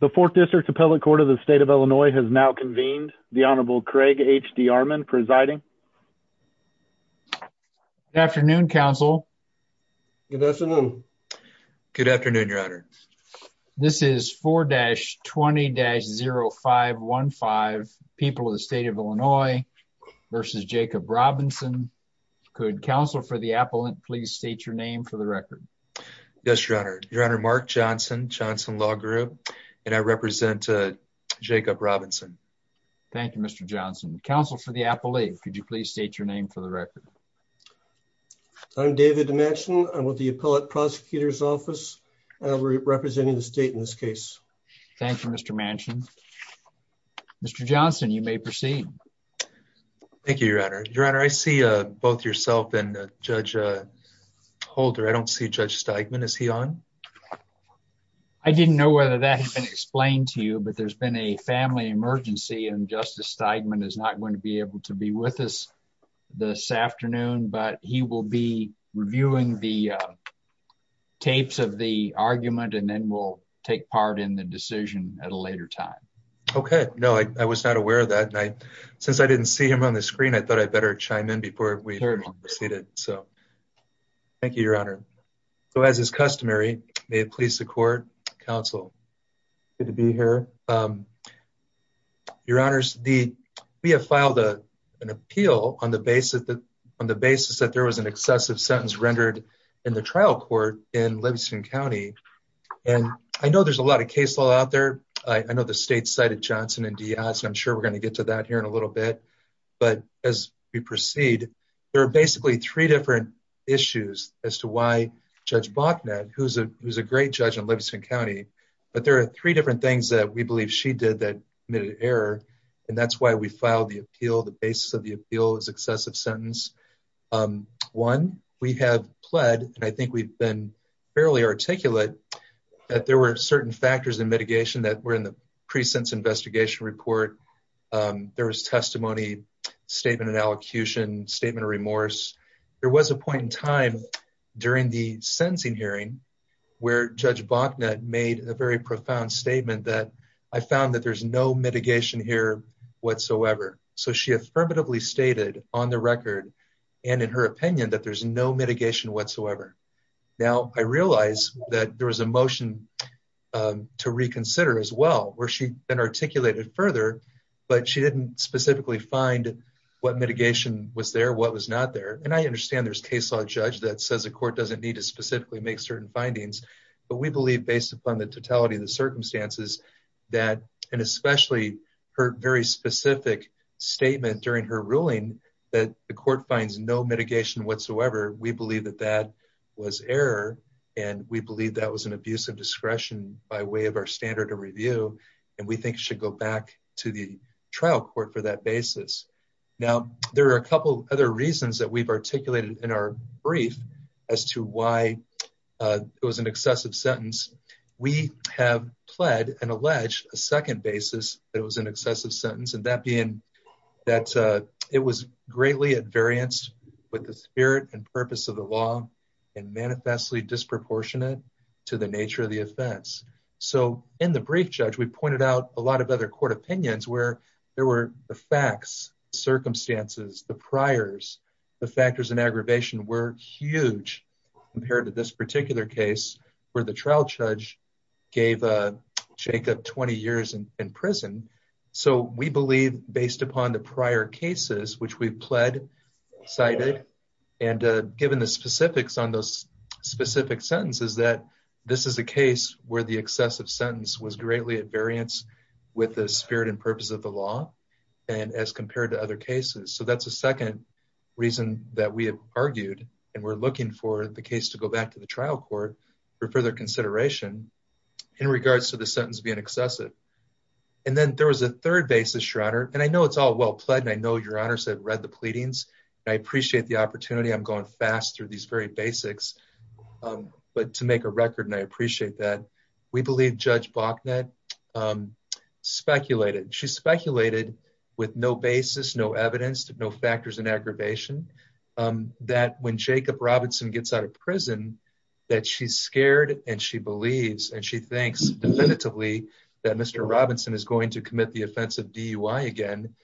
The 4th District Appellate Court of the State of Illinois has now convened. The Honorable Craig H. D. Armond presiding. Good afternoon, counsel. Good afternoon. Good afternoon, your honor. This is 4-20-0515, People of the State of Illinois v. Jacob Robinson. Could counsel for the appellant please state your name for the record? Yes, your honor. Your honor, Mark Johnson, Johnson Law Group, and I represent Jacob Robinson. Thank you, Mr. Johnson. Counsel for the appellate, could you please state your name for the record? I'm David Manchin. I'm with the Appellate Prosecutor's Office. We're representing the state in this case. Thank you, Mr. Manchin. Mr. Johnson, you may proceed. Thank you, your honor. Your honor, I see both yourself and Judge Holder. I don't see Judge Steigman. Is he on? I didn't know whether that had been explained to you, but there's been a family emergency, and Justice Steigman is not going to be able to be with us this afternoon, but he will be reviewing the tapes of the argument, and then we'll take part in the decision at a later time. Okay. No, I was not aware of that. Since I didn't see him on the screen, I thought I'd better chime in before we proceeded. So, thank you, your honor. So, as is customary, may it please the court, counsel, good to be here. Your honors, we have filed an appeal on the basis that there was an excessive sentence rendered in the trial court in Livingston County, and I know there's a lot of case law out there. I know the state cited Johnson and Diaz, and I'm sure we're going to get to that here in a little bit, but as we proceed, there are basically three different issues as to why Judge Bachnett, who's a great judge in Livingston County, but there are three different things that we believe she did that committed error, and that's why we filed the appeal. The basis of the appeal is excessive sentence. One, we have pled, and I think we've been fairly articulate, that there were certain factors in mitigation that were in the precinct's investigation report. There was testimony, statement of allocution, statement of remorse. There was a point in time during the sentencing hearing where Judge Bachnett made a very profound statement that I found that there's no mitigation here whatsoever. So, she affirmatively stated on the record and in her opinion that there's no mitigation whatsoever. Now, I realize that there was a motion to reconsider as well, where she then articulated further, but she didn't specifically find what mitigation was there, what was not there, and I understand there's case law judge that says the court doesn't need to specifically make certain findings, but we believe based upon the totality of the circumstances that, and especially her very specific statement during her ruling that the court finds no mitigation whatsoever, we believe that that was error, and we believe that was an abuse discretion by way of our standard of review, and we think it should go back to the trial court for that basis. Now, there are a couple other reasons that we've articulated in our brief as to why it was an excessive sentence. We have pled and alleged a second basis that it was an excessive sentence, and that being that it was greatly at variance with the spirit and purpose of the law and manifestly disproportionate to the nature of the offense. So, in the brief, Judge, we pointed out a lot of other court opinions where there were the facts, circumstances, the priors, the factors and aggravation were huge compared to this particular case where the trial judge gave Jacob 20 years in prison. So, we believe based upon the prior cases which we've pled, cited, and given the specifics on those specific sentences that this is a case where the excessive sentence was greatly at variance with the spirit and purpose of the law and as compared to other cases. So, that's a second reason that we have argued, and we're looking for the case to go back to the trial court for further consideration in regards to the sentence being excessive. And then there was a third basis, Your Honor, and I know it's all well pled, and I know Your Honors have read the pleadings, and I appreciate the opportunity. I'm going fast through these very basics, but to make a record, and I appreciate that, we believe Judge Bachnett speculated. She speculated with no basis, no evidence, no factors and aggravation that when Jacob Robinson gets out of prison that she's scared, and she believes, and she thinks definitively that Mr. Robinson is going to commit the offensive DUI again.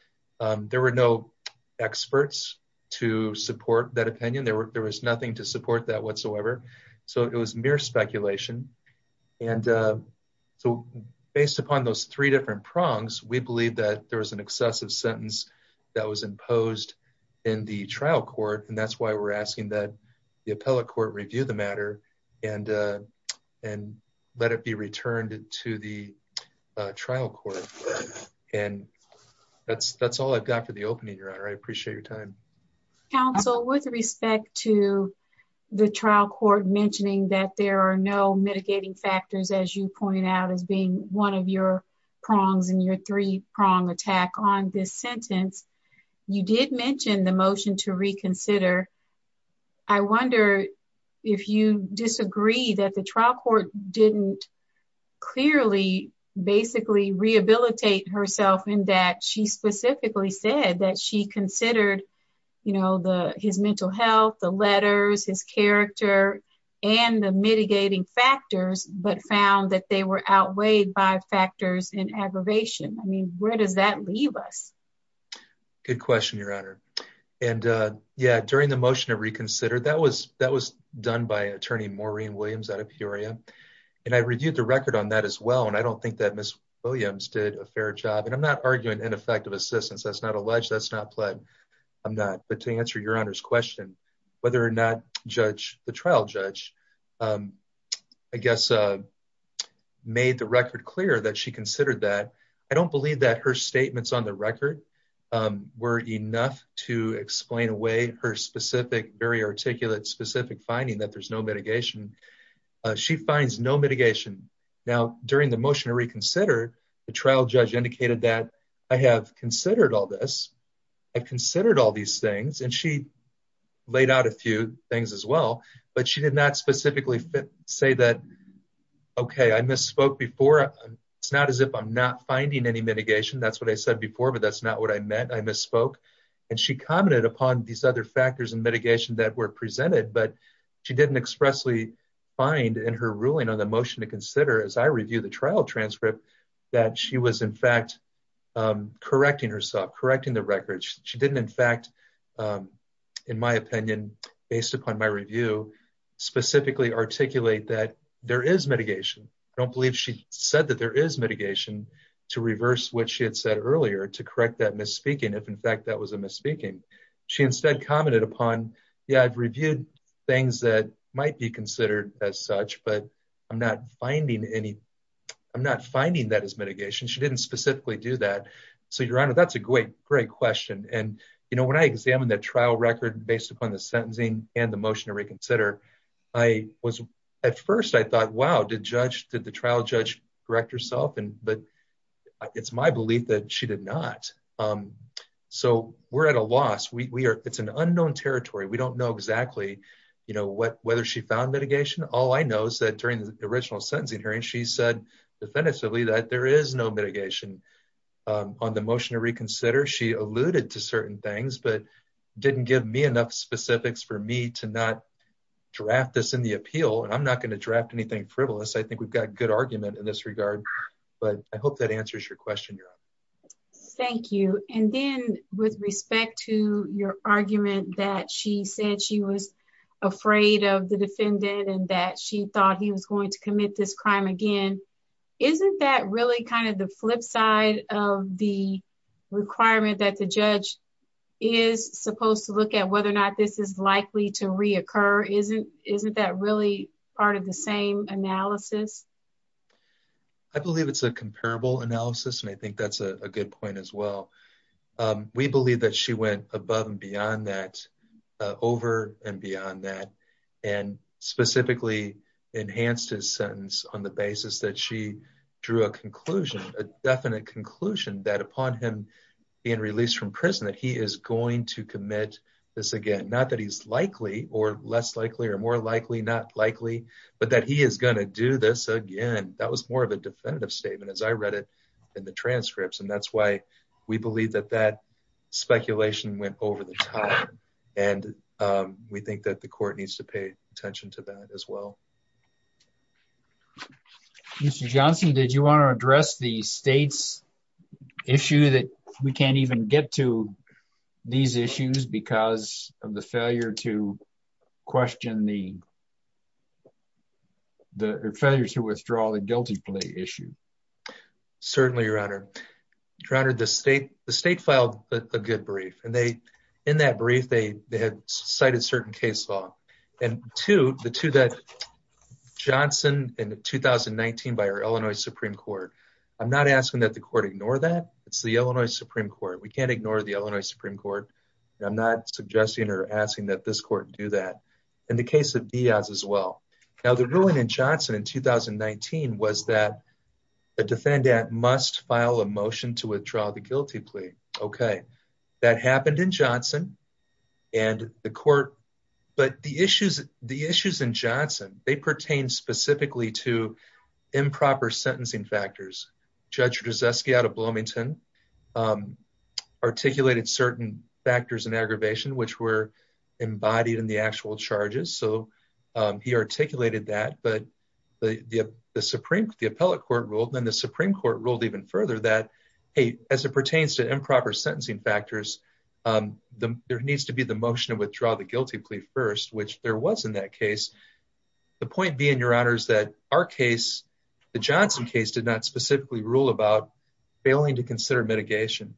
There were no experts to support that opinion. There was nothing to support that whatsoever. So, it was mere speculation. And so, based upon those three different prongs, we believe that there was an excessive sentence that was imposed in the trial court, and that's why we're asking that the appellate court review the matter and let it be returned to the trial court. And that's all I've got for the opening, Your Honor. I appreciate your time. Counsel, with respect to the trial court mentioning that there are no mitigating factors, as you point out, as being one of your prongs in your three-prong attack on this sentence, you did mention the motion to reconsider. I wonder if you disagree that the trial court didn't clearly basically rehabilitate herself in that she specifically said that she considered, you know, his mental health, the letters, his character, and the mitigating factors, but found that they were outweighed by factors and aggravation. I mean, where does that leave us? Good question, Your Honor. And yeah, during the motion to reconsider, that was done by Attorney Maureen Williams out of Peoria, and I reviewed the record on that as well, and I don't think that Ms. Williams did a fair job. And I'm not arguing ineffective assistance. That's not alleged. That's not pled. I'm not. But to answer Your Honor's question, whether or not the trial judge, I guess, made the record clear that she considered that. I don't believe that her statements on the record were enough to explain away her specific, very articulate, specific finding that there's no mitigation. She finds no mitigation. Now, during the motion to reconsider, the trial judge indicated that I have considered all this. I've considered all these things, and she laid out a few things as well, but she did not specifically say that, okay, I misspoke before. It's not as if I'm not finding any mitigation. That's what I said before, but that's not what I meant. I misspoke. And she commented upon these other factors and mitigation that were presented, but she didn't expressly find in her ruling on the motion to consider, as I review the trial transcript, that she was, in fact, correcting herself, correcting the record. She didn't, in fact, in my opinion, based upon my review, specifically articulate that there is mitigation. I don't believe she said that there is mitigation to reverse what she had said earlier to correct that misspeaking, if, in fact, that was a misspeaking. She instead commented upon, yeah, I've reviewed things that might be considered as such, but I'm not finding any, I'm not finding that as mitigation. She didn't specifically do that. So, Your Honor, that's a great, great question. And, you know, when I examined that trial record based upon the sentencing and the motion to reconsider, I was, at first, I thought, wow, did the trial judge correct herself? But it's my belief that she did not. So, we're at a loss. It's an unknown territory. We don't know exactly, you know, whether she found mitigation. All I know is that during the original sentencing hearing, she said definitively that there is no mitigation. On the motion to reconsider, she alluded to certain things, but didn't give me enough specifics for me to not draft this in the appeal. And I'm not going to draft anything frivolous. I think we've got good argument in this regard. But I hope that answers your question, Your Honor. Thank you. And then with respect to your argument that she said she was afraid of the defendant and that she thought he was going to commit this crime again, isn't that really kind of the to reoccur? Isn't that really part of the same analysis? I believe it's a comparable analysis, and I think that's a good point as well. We believe that she went above and beyond that, over and beyond that, and specifically enhanced his sentence on the basis that she drew a conclusion, a definite conclusion, that upon him being released from prison, that he is going to commit this again. Not that he's likely or less likely or more likely, not likely, but that he is going to do this again. That was more of a definitive statement as I read it in the transcripts. And that's why we believe that that speculation went over the top. And we think that the court needs to pay attention to that as well. Mr. Johnson, did you want to address the state's issue that we can't even get to these failures to withdraw the guilty plea issue? Certainly, Your Honor. The state filed a good brief. And in that brief, they had cited certain case law. And two, the two that Johnson in 2019 by our Illinois Supreme Court, I'm not asking that the court ignore that. It's the Illinois Supreme Court. We can't ignore the Illinois Supreme Court. I'm not suggesting or asking that this court do that in the case of Diaz as well. Now, the ruling in Johnson in 2019 was that the defendant must file a motion to withdraw the guilty plea. OK, that happened in Johnson and the court. But the issues in Johnson, they pertain specifically to improper sentencing factors. Judge Rudzewski out of Bloomington articulated certain factors and aggravation which were embodied in the actual charges. So he articulated that. But the Supreme, the appellate court ruled, then the Supreme Court ruled even further that, hey, as it pertains to improper sentencing factors, there needs to be the motion to withdraw the guilty plea first, which there was in that case. The point being, Your Honor, is that our case, the Johnson case, did not specifically rule about failing to consider mitigation.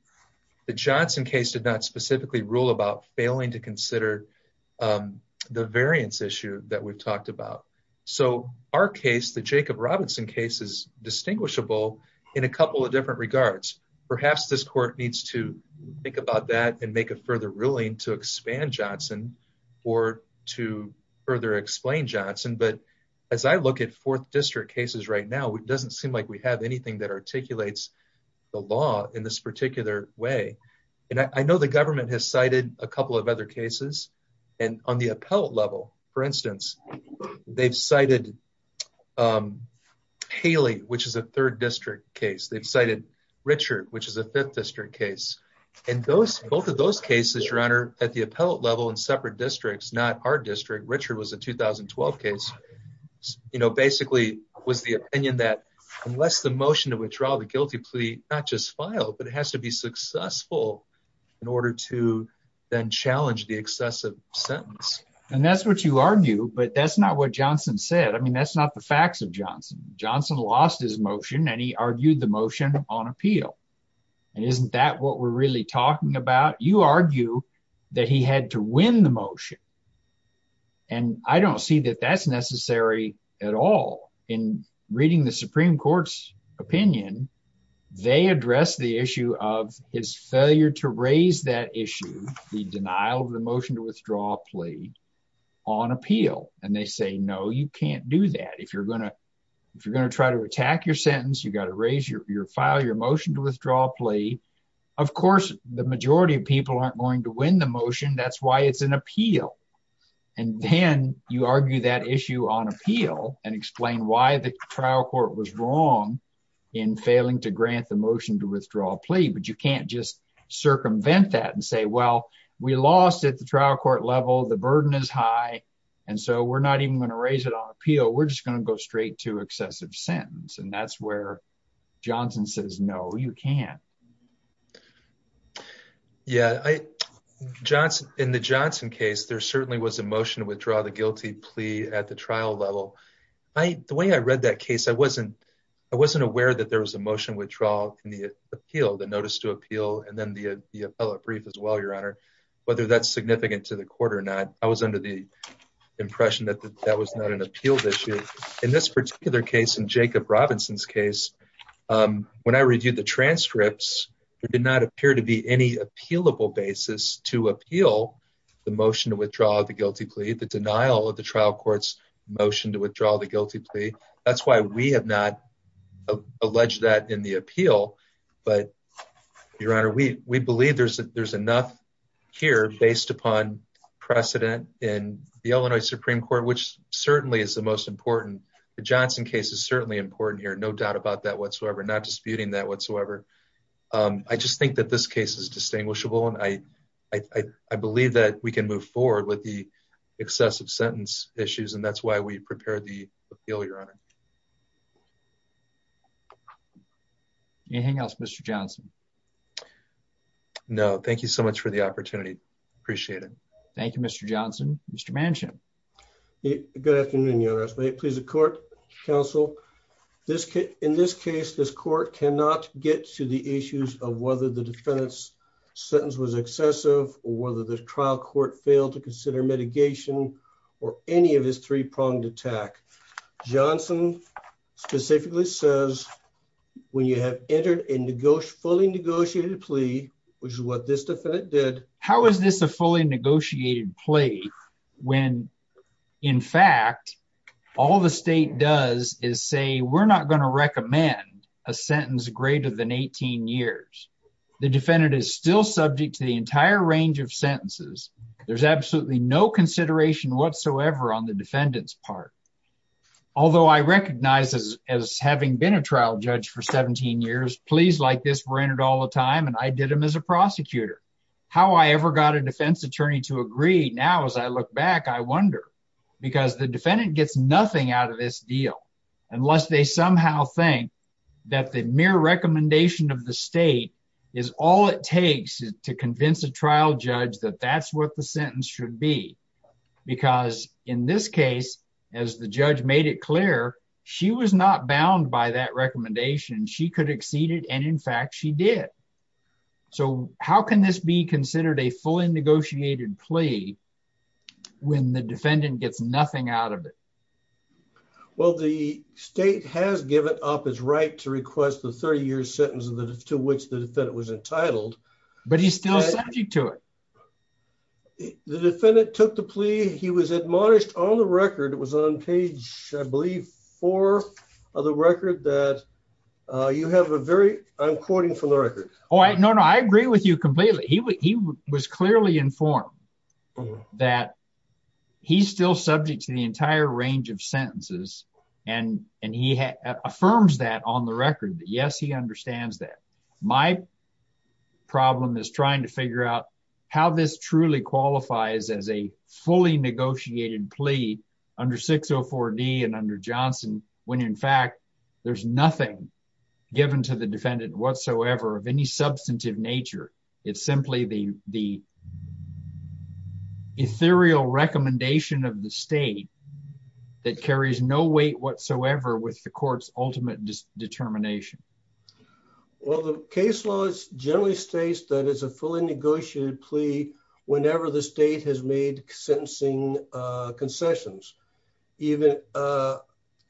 The Johnson case did not specifically rule about failing to consider the variance issue that we've talked about. So our case, the Jacob Robinson case, is distinguishable in a couple of different regards. Perhaps this court needs to think about that and make a further ruling to expand Johnson or to further explain Johnson. But as I look at fourth district cases right now, it doesn't seem like we have anything that articulates the law in this particular way. And I know the government has cited a couple of other cases. And on the appellate level, for instance, they've cited Haley, which is a third district case. They've cited Richard, which is a fifth district case. And both of those cases, Your Honor, at the appellate level in separate districts, not our district, Richard was a 2012 case, you know, basically was the opinion that unless the motion to withdraw the guilty plea not just filed, but it has to be successful in order to then challenge the excessive sentence. And that's what you argue, but that's not what Johnson said. I mean, that's not the facts of Johnson. Johnson lost his motion and he argued the motion on appeal. And isn't that what we're really talking about? You argue that he had to win the motion. And I don't see that that's necessary at all. In reading the Supreme Court's opinion, they address the issue of his failure to raise that issue, the denial of the motion to withdraw a plea on appeal. And they say, no, you can't do that. If you're going to if you're going to try to attack your sentence, you've got to raise your file, your motion to withdraw a plea. Of course, the majority of people aren't going to win the motion. That's why it's an appeal. And then you argue that issue on appeal and explain why the trial court was wrong in failing to grant the motion to withdraw a plea. But you can't just circumvent that and say, well, we lost at the trial court level. The burden is high. And so we're not even going to raise it on appeal. We're just going to go straight to excessive sentence. And that's where Johnson says, no, you can't. Yeah, in the Johnson case, there certainly was a motion to withdraw the guilty plea at the trial level. The way I read that case, I wasn't aware that there was a motion withdrawal in the appeal, the notice to appeal, and then the appellate brief as well, Your Honor, whether that's significant to the court or not. I was under the impression that that was not an appeal issue. In this particular case, in Jacob Robinson's case, when I reviewed the transcripts, there did not appear to be any appealable basis to appeal the motion to withdraw the guilty plea, the denial of the trial court's motion to withdraw the guilty plea. That's why we have not alleged that in the appeal. But, Your Honor, we believe there's enough here based upon precedent in the Illinois Supreme Court, which certainly is the most important. The Johnson case is certainly important here. No doubt about that whatsoever. Not disputing that whatsoever. I just think that this case is distinguishable, and I believe that we can move forward with the excessive sentence issues, and that's why we prepared the appeal, Your Honor. Anything else, Mr. Johnson? No. Thank you so much for the opportunity. Appreciate it. Thank you, Mr. Johnson. Mr. Manchin. Good afternoon, Your Honor. Please, the court, counsel. In this case, this court cannot get to the issues of whether the defendant's sentence was excessive or whether the trial court failed to consider mitigation or any of his three pronged attack. Johnson specifically says, when you have entered a fully negotiated plea, which is what this defendant did. How is this a fully negotiated plea when, in fact, all the state does is say we're not going to recommend a sentence greater than 18 years? The defendant is still subject to the entire range of sentences. There's absolutely no consideration whatsoever on the defendant's part. Although I recognize as having been a trial judge for 17 years, pleas like this were entered all the time, and I did them as a prosecutor. How I ever got a defense attorney to agree now, as I look back, I wonder. Because the defendant gets nothing out of this deal unless they somehow think that the mere recommendation of the state is all it takes to convince a trial judge that that's what the sentence should be. Because in this case, as the judge made it clear, she was not bound by that recommendation. She could exceed it, and in fact, she did. So how can this be considered a fully negotiated plea when the defendant gets nothing out of it? Well, the state has given up its right to request the 30-year sentence to which the defendant was entitled. But he's still subject to it. The defendant took the plea. He was admonished on the record. It was on page, I believe, 4 of the record that you have a very, I'm quoting from the No, no, I agree with you completely. He was clearly informed that he's still subject to the entire range of sentences, and he affirms that on the record that, yes, he understands that. My problem is trying to figure out how this truly qualifies as a fully negotiated plea under 604D and under Johnson when, in fact, there's nothing given to the defendant whatsoever of any substantive nature. It's simply the ethereal recommendation of the state that carries no weight whatsoever with the court's ultimate determination. Well, the case law generally states that it's a fully negotiated plea whenever the state has made sentencing concessions.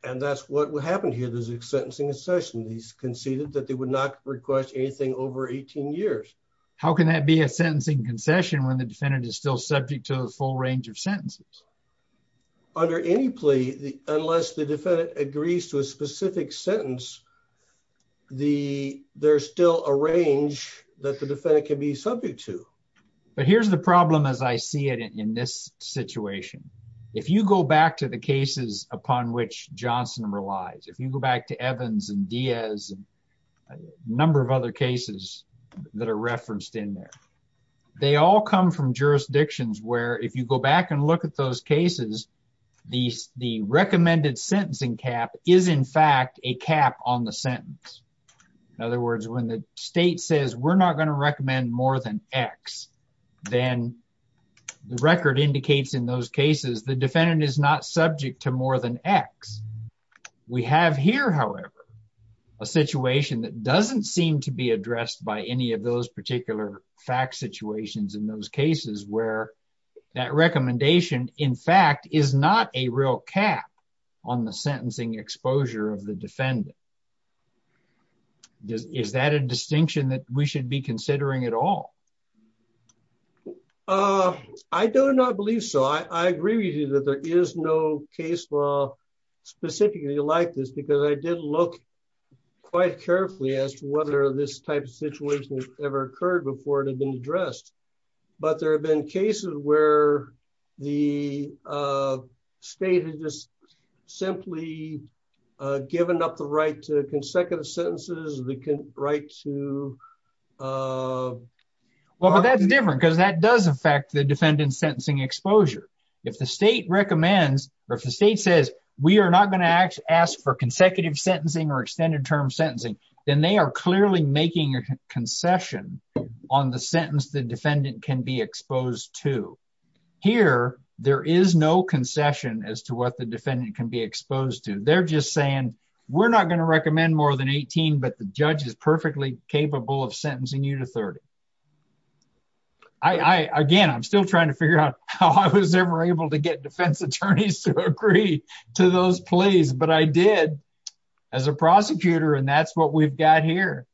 And that's what happened here. There's a sentencing concession. He's conceded that they would not request anything over 18 years. How can that be a sentencing concession when the defendant is still subject to the full range of sentences? Under any plea, unless the defendant agrees to a specific sentence, there's still a range that the defendant can be subject to. But here's the problem as I see it in this situation. If you go back to the cases upon which Johnson relies, if you go back to Evans and Diaz and a number of other cases that are referenced in there, they all come from jurisdictions where, if you go back and look at those cases, the recommended sentencing cap is, in fact, a cap on the sentence. In other words, when the state says, we're not going to recommend more than X, then the defendant is not subject to more than X. We have here, however, a situation that doesn't seem to be addressed by any of those particular fact situations in those cases where that recommendation, in fact, is not a real cap on the sentencing exposure of the defendant. Is that a distinction that we should be considering at all? I do not believe so. I agree with you that there is no case law specifically like this because I did look quite carefully as to whether this type of situation has ever occurred before it had been addressed. But there have been cases where the state has just simply given up the right to consecutive sentences, the right to... Well, but that's different because that does affect the defendant's sentencing exposure. If the state recommends or if the state says, we are not going to ask for consecutive sentencing or extended term sentencing, then they are clearly making a concession on the sentence the defendant can be exposed to. Here, there is no concession as to what the defendant can be exposed to. They're just saying, we're not going to recommend more than 18, but the judge is perfectly capable of sentencing you to 30. I, again, I'm still trying to figure out how I was ever able to get defense attorneys to agree to those plays, but I did as a prosecutor and that's what we've got here.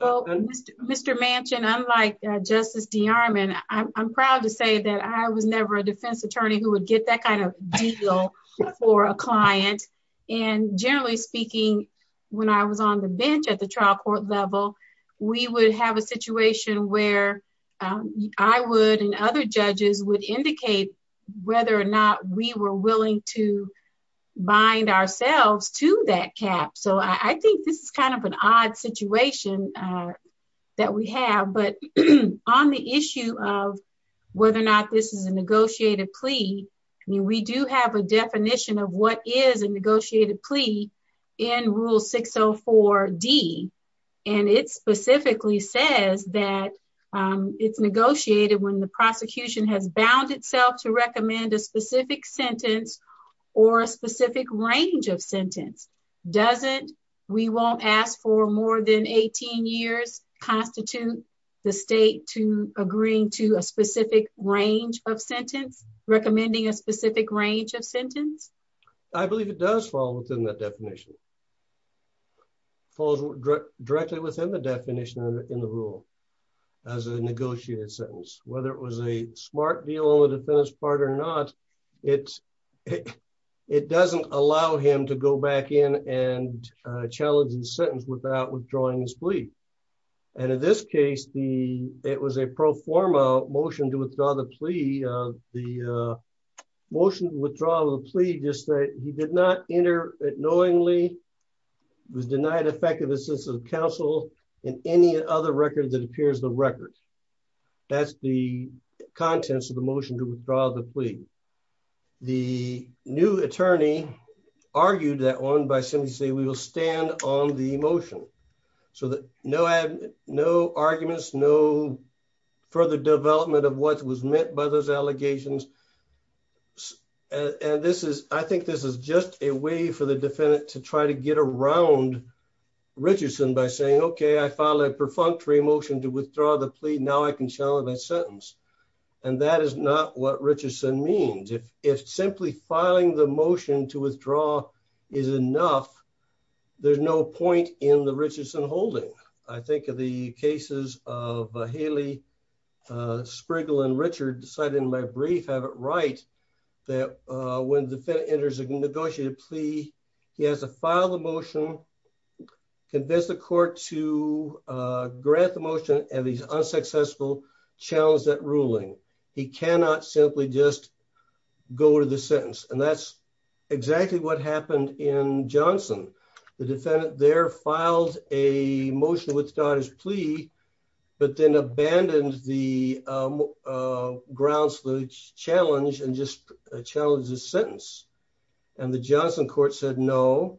Well, Mr. Manchin, unlike Justice DeArmond, I'm proud to say that I was never a defense attorney who would get that kind of deal for a client. And generally speaking, when I was on the bench at the trial court level, we would have a situation where I would and other judges would indicate whether or not we were willing to bind ourselves to that cap. So I think this is kind of an odd situation that we have, but on the issue of whether or not this is a negotiated plea, I mean, we do have a definition of what is a negotiated plea in Rule 604D, and it specifically says that it's negotiated when the prosecution has bound itself to recommend a specific sentence or a specific range of sentence. Doesn't we won't ask for more than 18 years constitute the state to agreeing to a specific range of sentence, recommending a specific range of sentence? I believe it does fall within that definition, falls directly within the definition in the rule as a negotiated sentence. Whether it was a smart deal on the defense part or not, it doesn't allow him to go back in and challenge the sentence without withdrawing his plea. And in this case, it was a pro forma motion to withdraw the plea. The motion to withdraw the plea just that he did not enter it knowingly, was denied effective assistance of counsel in any other record that appears the record. That's the contents of the motion to withdraw the plea. The new attorney argued that one by simply saying we will stand on the motion so that no arguments, no further development of what was meant by those allegations. And this is, I think this is just a way for the defendant to try to get around Richardson by saying, okay, I filed a perfunctory motion to withdraw the plea. Now I can challenge that sentence. And that is not what Richardson means. If simply filing the motion to withdraw is enough, there's no point in the Richardson holding. I think of the cases of Haley, Spriggle and Richard decided in my brief have it right that when the defendant enters a negotiated plea, he has to file the motion, convince the court to grant the motion and he's unsuccessful, challenge that ruling. He cannot simply just go to the sentence. And that's exactly what happened in Johnson. The defendant there filed a motion to withdraw his plea, but then abandoned the grounds for the challenge and just challenged the sentence. And the Johnson court said, no,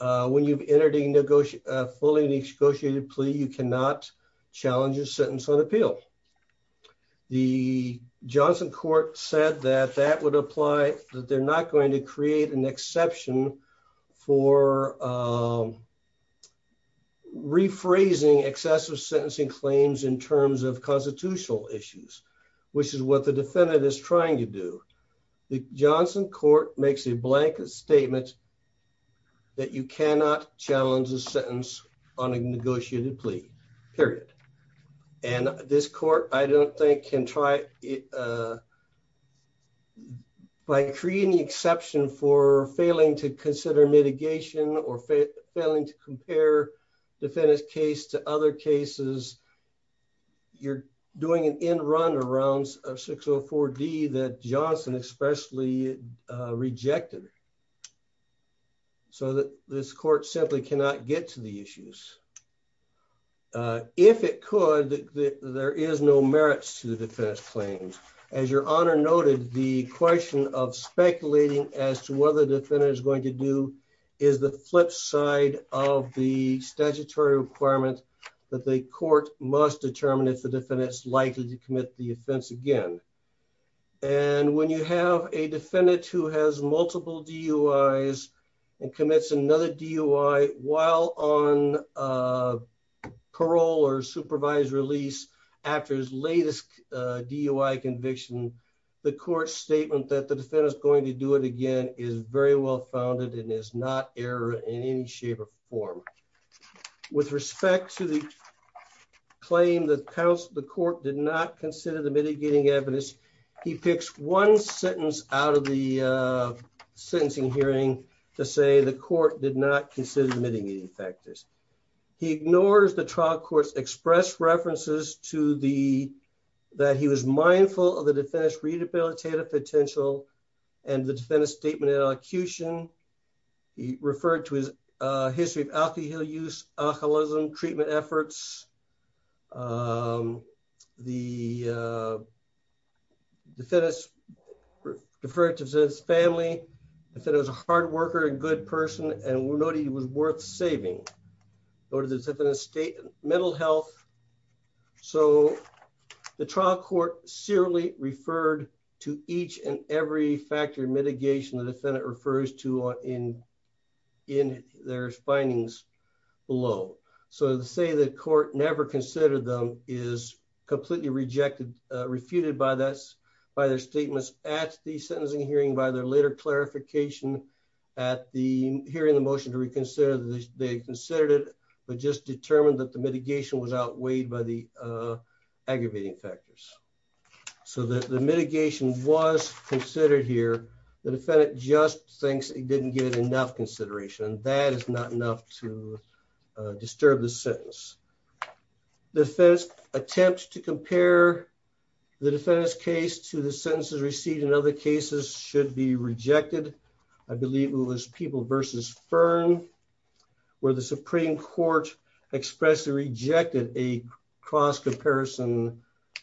when you've entered a fully negotiated plea, you cannot challenge your sentence on appeal. The Johnson court said that that would apply, that they're not going to create an exception for rephrasing excessive sentencing claims in terms of constitutional issues, which is what the defendant is trying to do. The Johnson court makes a blanket statement that you cannot challenge the sentence on a negotiated plea period. And this court, I don't think can try it by creating the exception for failing to consider mitigation or failing to compare defendant's case to other cases. You're doing an end run around 604D that Johnson especially rejected. So that this court simply cannot get to the issues. If it could, there is no merits to the defense claims. As your honor noted, the question of speculating as to whether the defendant is going to do is the flip side of the statutory requirement that the court must determine if the defendant is likely to commit the offense again. And when you have a defendant who has multiple DUIs and commits another DUI while on a parole or supervised release after his latest DUI conviction, the court statement that the defendant is going to do it again is very well founded and is not error in any shape or form. With respect to the claim that the court did not consider the mitigating evidence, he picks one sentence out of the sentencing hearing to say the court did not consider the mitigating factors. He ignores the trial court's express references to the, that he was mindful of the defendant's rehabilitative potential and the defendant's statement in elocution. He referred to his history of alcohol use, alcoholism, treatment efforts. The defendant referred to his family. He said he was a hard worker and good person and noted he was worth saving. He noted the defendant's state mental health. So the trial court serially referred to each and every factor of mitigation the defendant refers to in their findings below. So to say the court never considered them is completely rejected, refuted by their statements at the sentencing hearing by their later clarification at the hearing the motion to reconsider that they considered it, but just determined that the mitigation was outweighed by the aggravating factors. So the mitigation was considered here. The defendant just thinks it didn't get enough consideration. That is not enough to disturb the sentence. The first attempt to compare the defendant's case to the sentences received in other cases should be rejected. I believe it was People v. Fern where the Supreme Court expressly rejected a cross-comparison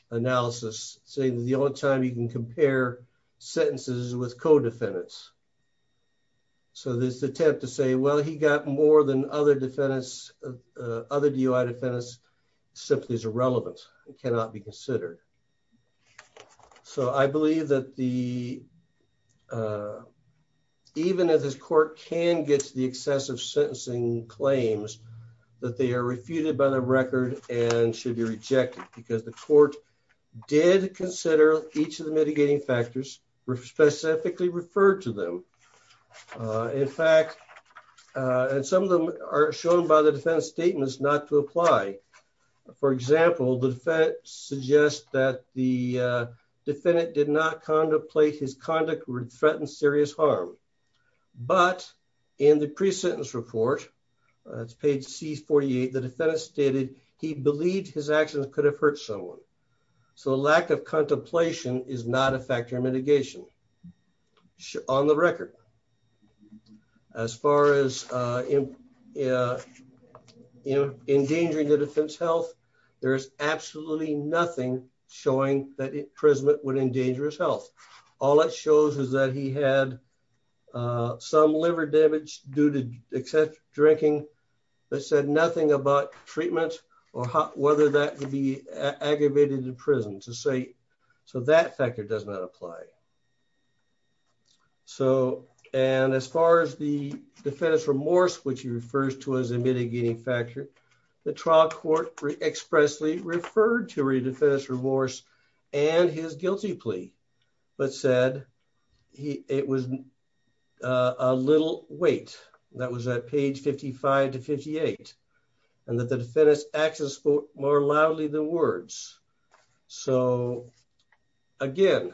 analysis saying the only time you can compare sentences with co-defendants. So this attempt to say, well, he got more than other defendants, other DOI defendants, simply is irrelevant. It cannot be considered. So I believe that the, even if this court can get to the excessive sentencing claims that they are refuted by the record and should be rejected because the court did consider each of the mitigating factors were specifically referred to them. In fact, and some of them are shown by the defense statements not to apply. For example, the defense suggests that the defendant did not contemplate his conduct would threaten serious harm. But in the pre-sentence report, it's page C48, the defendant stated he believed his actions could have hurt someone. So lack of contemplation is not a factor in mitigation on the record. As far as endangering the defense health, there's absolutely nothing showing that imprisonment would endanger his health. All that shows is that he had some liver damage due to excessive drinking that said nothing about treatment or whether that could be aggravated in prison to say, so that factor does not apply. So, and as far as the defense remorse, which he refers to as a mitigating factor, the trial court expressly referred to redefense remorse and his guilty plea, but said he, it was a little weight that was at page 55 to 58 and that the defendant's actions spoke more loudly than words. So again,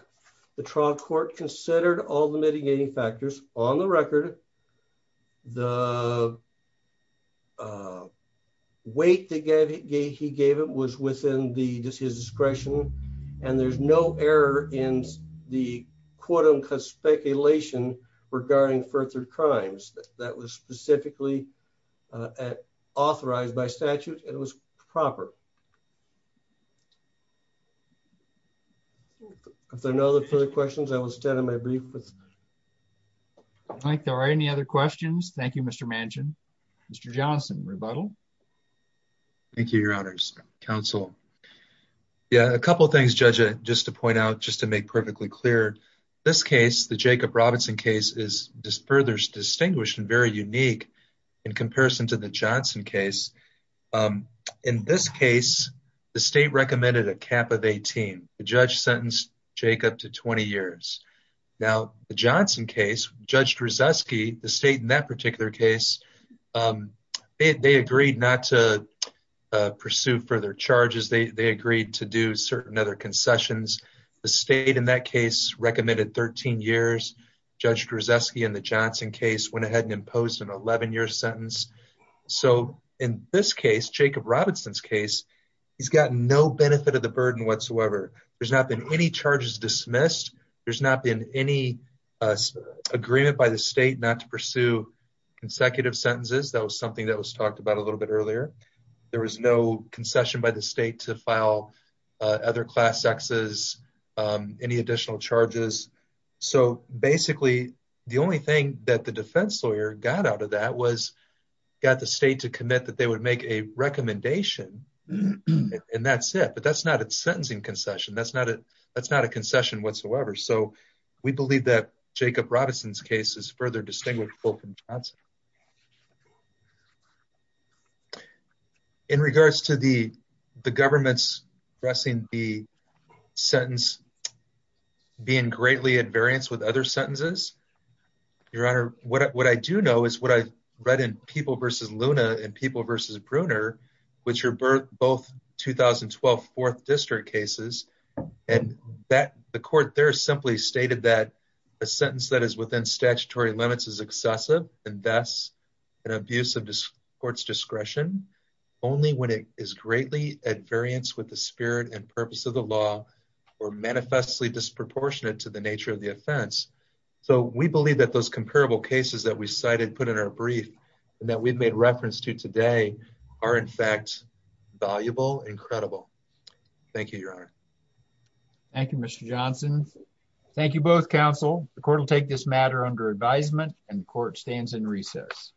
the trial court considered all the mitigating factors on the record. The weight that he gave it was within the discretion, and there's no error in the speculation regarding further crimes that was specifically authorized by statute. It was proper. If there are no other further questions, I will extend my brief. I think there are any other questions. Thank you, Mr. Manchin, Mr. Johnson, rebuttal. Thank you, your honors counsel. Yeah, a couple of things, judge, just to point out, just to make perfectly clear. This case, the Jacob Robinson case is just further distinguished and very unique in comparison to the Johnson case. In this case, the state recommended a cap of 18. The judge sentenced Jacob to 20 years. Now, the Johnson case, judge Drozdowski, the state in that particular case, they agreed not to pursue further charges. They agreed to do certain other concessions. The state in that case recommended 13 years. Judge Drozdowski in the Johnson case went ahead and imposed an 11-year sentence. So in this case, Jacob Robinson's case, he's gotten no benefit of the burden whatsoever. There's not been any charges dismissed. There's not been any agreement by the state not to pursue consecutive sentences. That was something that was talked about a little bit earlier. There was no concession by the state to file other class Xs, any additional charges. So basically, the only thing that the defense lawyer got out of that was got the state to commit that they would make a recommendation, and that's it. But that's not a sentencing concession. That's not a concession whatsoever. So we believe that Jacob Robinson's case is further distinguishable from Johnson. In regards to the government's addressing the sentence being greatly at variance with other sentences, Your Honor, what I do know is what I read in People v. Luna and People v. Bruner, which are both 2012 Fourth District cases, and the court there simply stated that a sentence that is within statutory limits is excessive and thus an abuse of court's discretion only when it is greatly at variance with the spirit and purpose of the law or manifestly disproportionate to the nature of the offense. So we believe that those comparable cases that we cited put in our brief and that we've made reference to today are, in fact, valuable, incredible. Thank you, Your Honor. Thank you, Mr. Johnson. Thank you both, counsel. The court will take this matter under advisement, and the court stands in recess.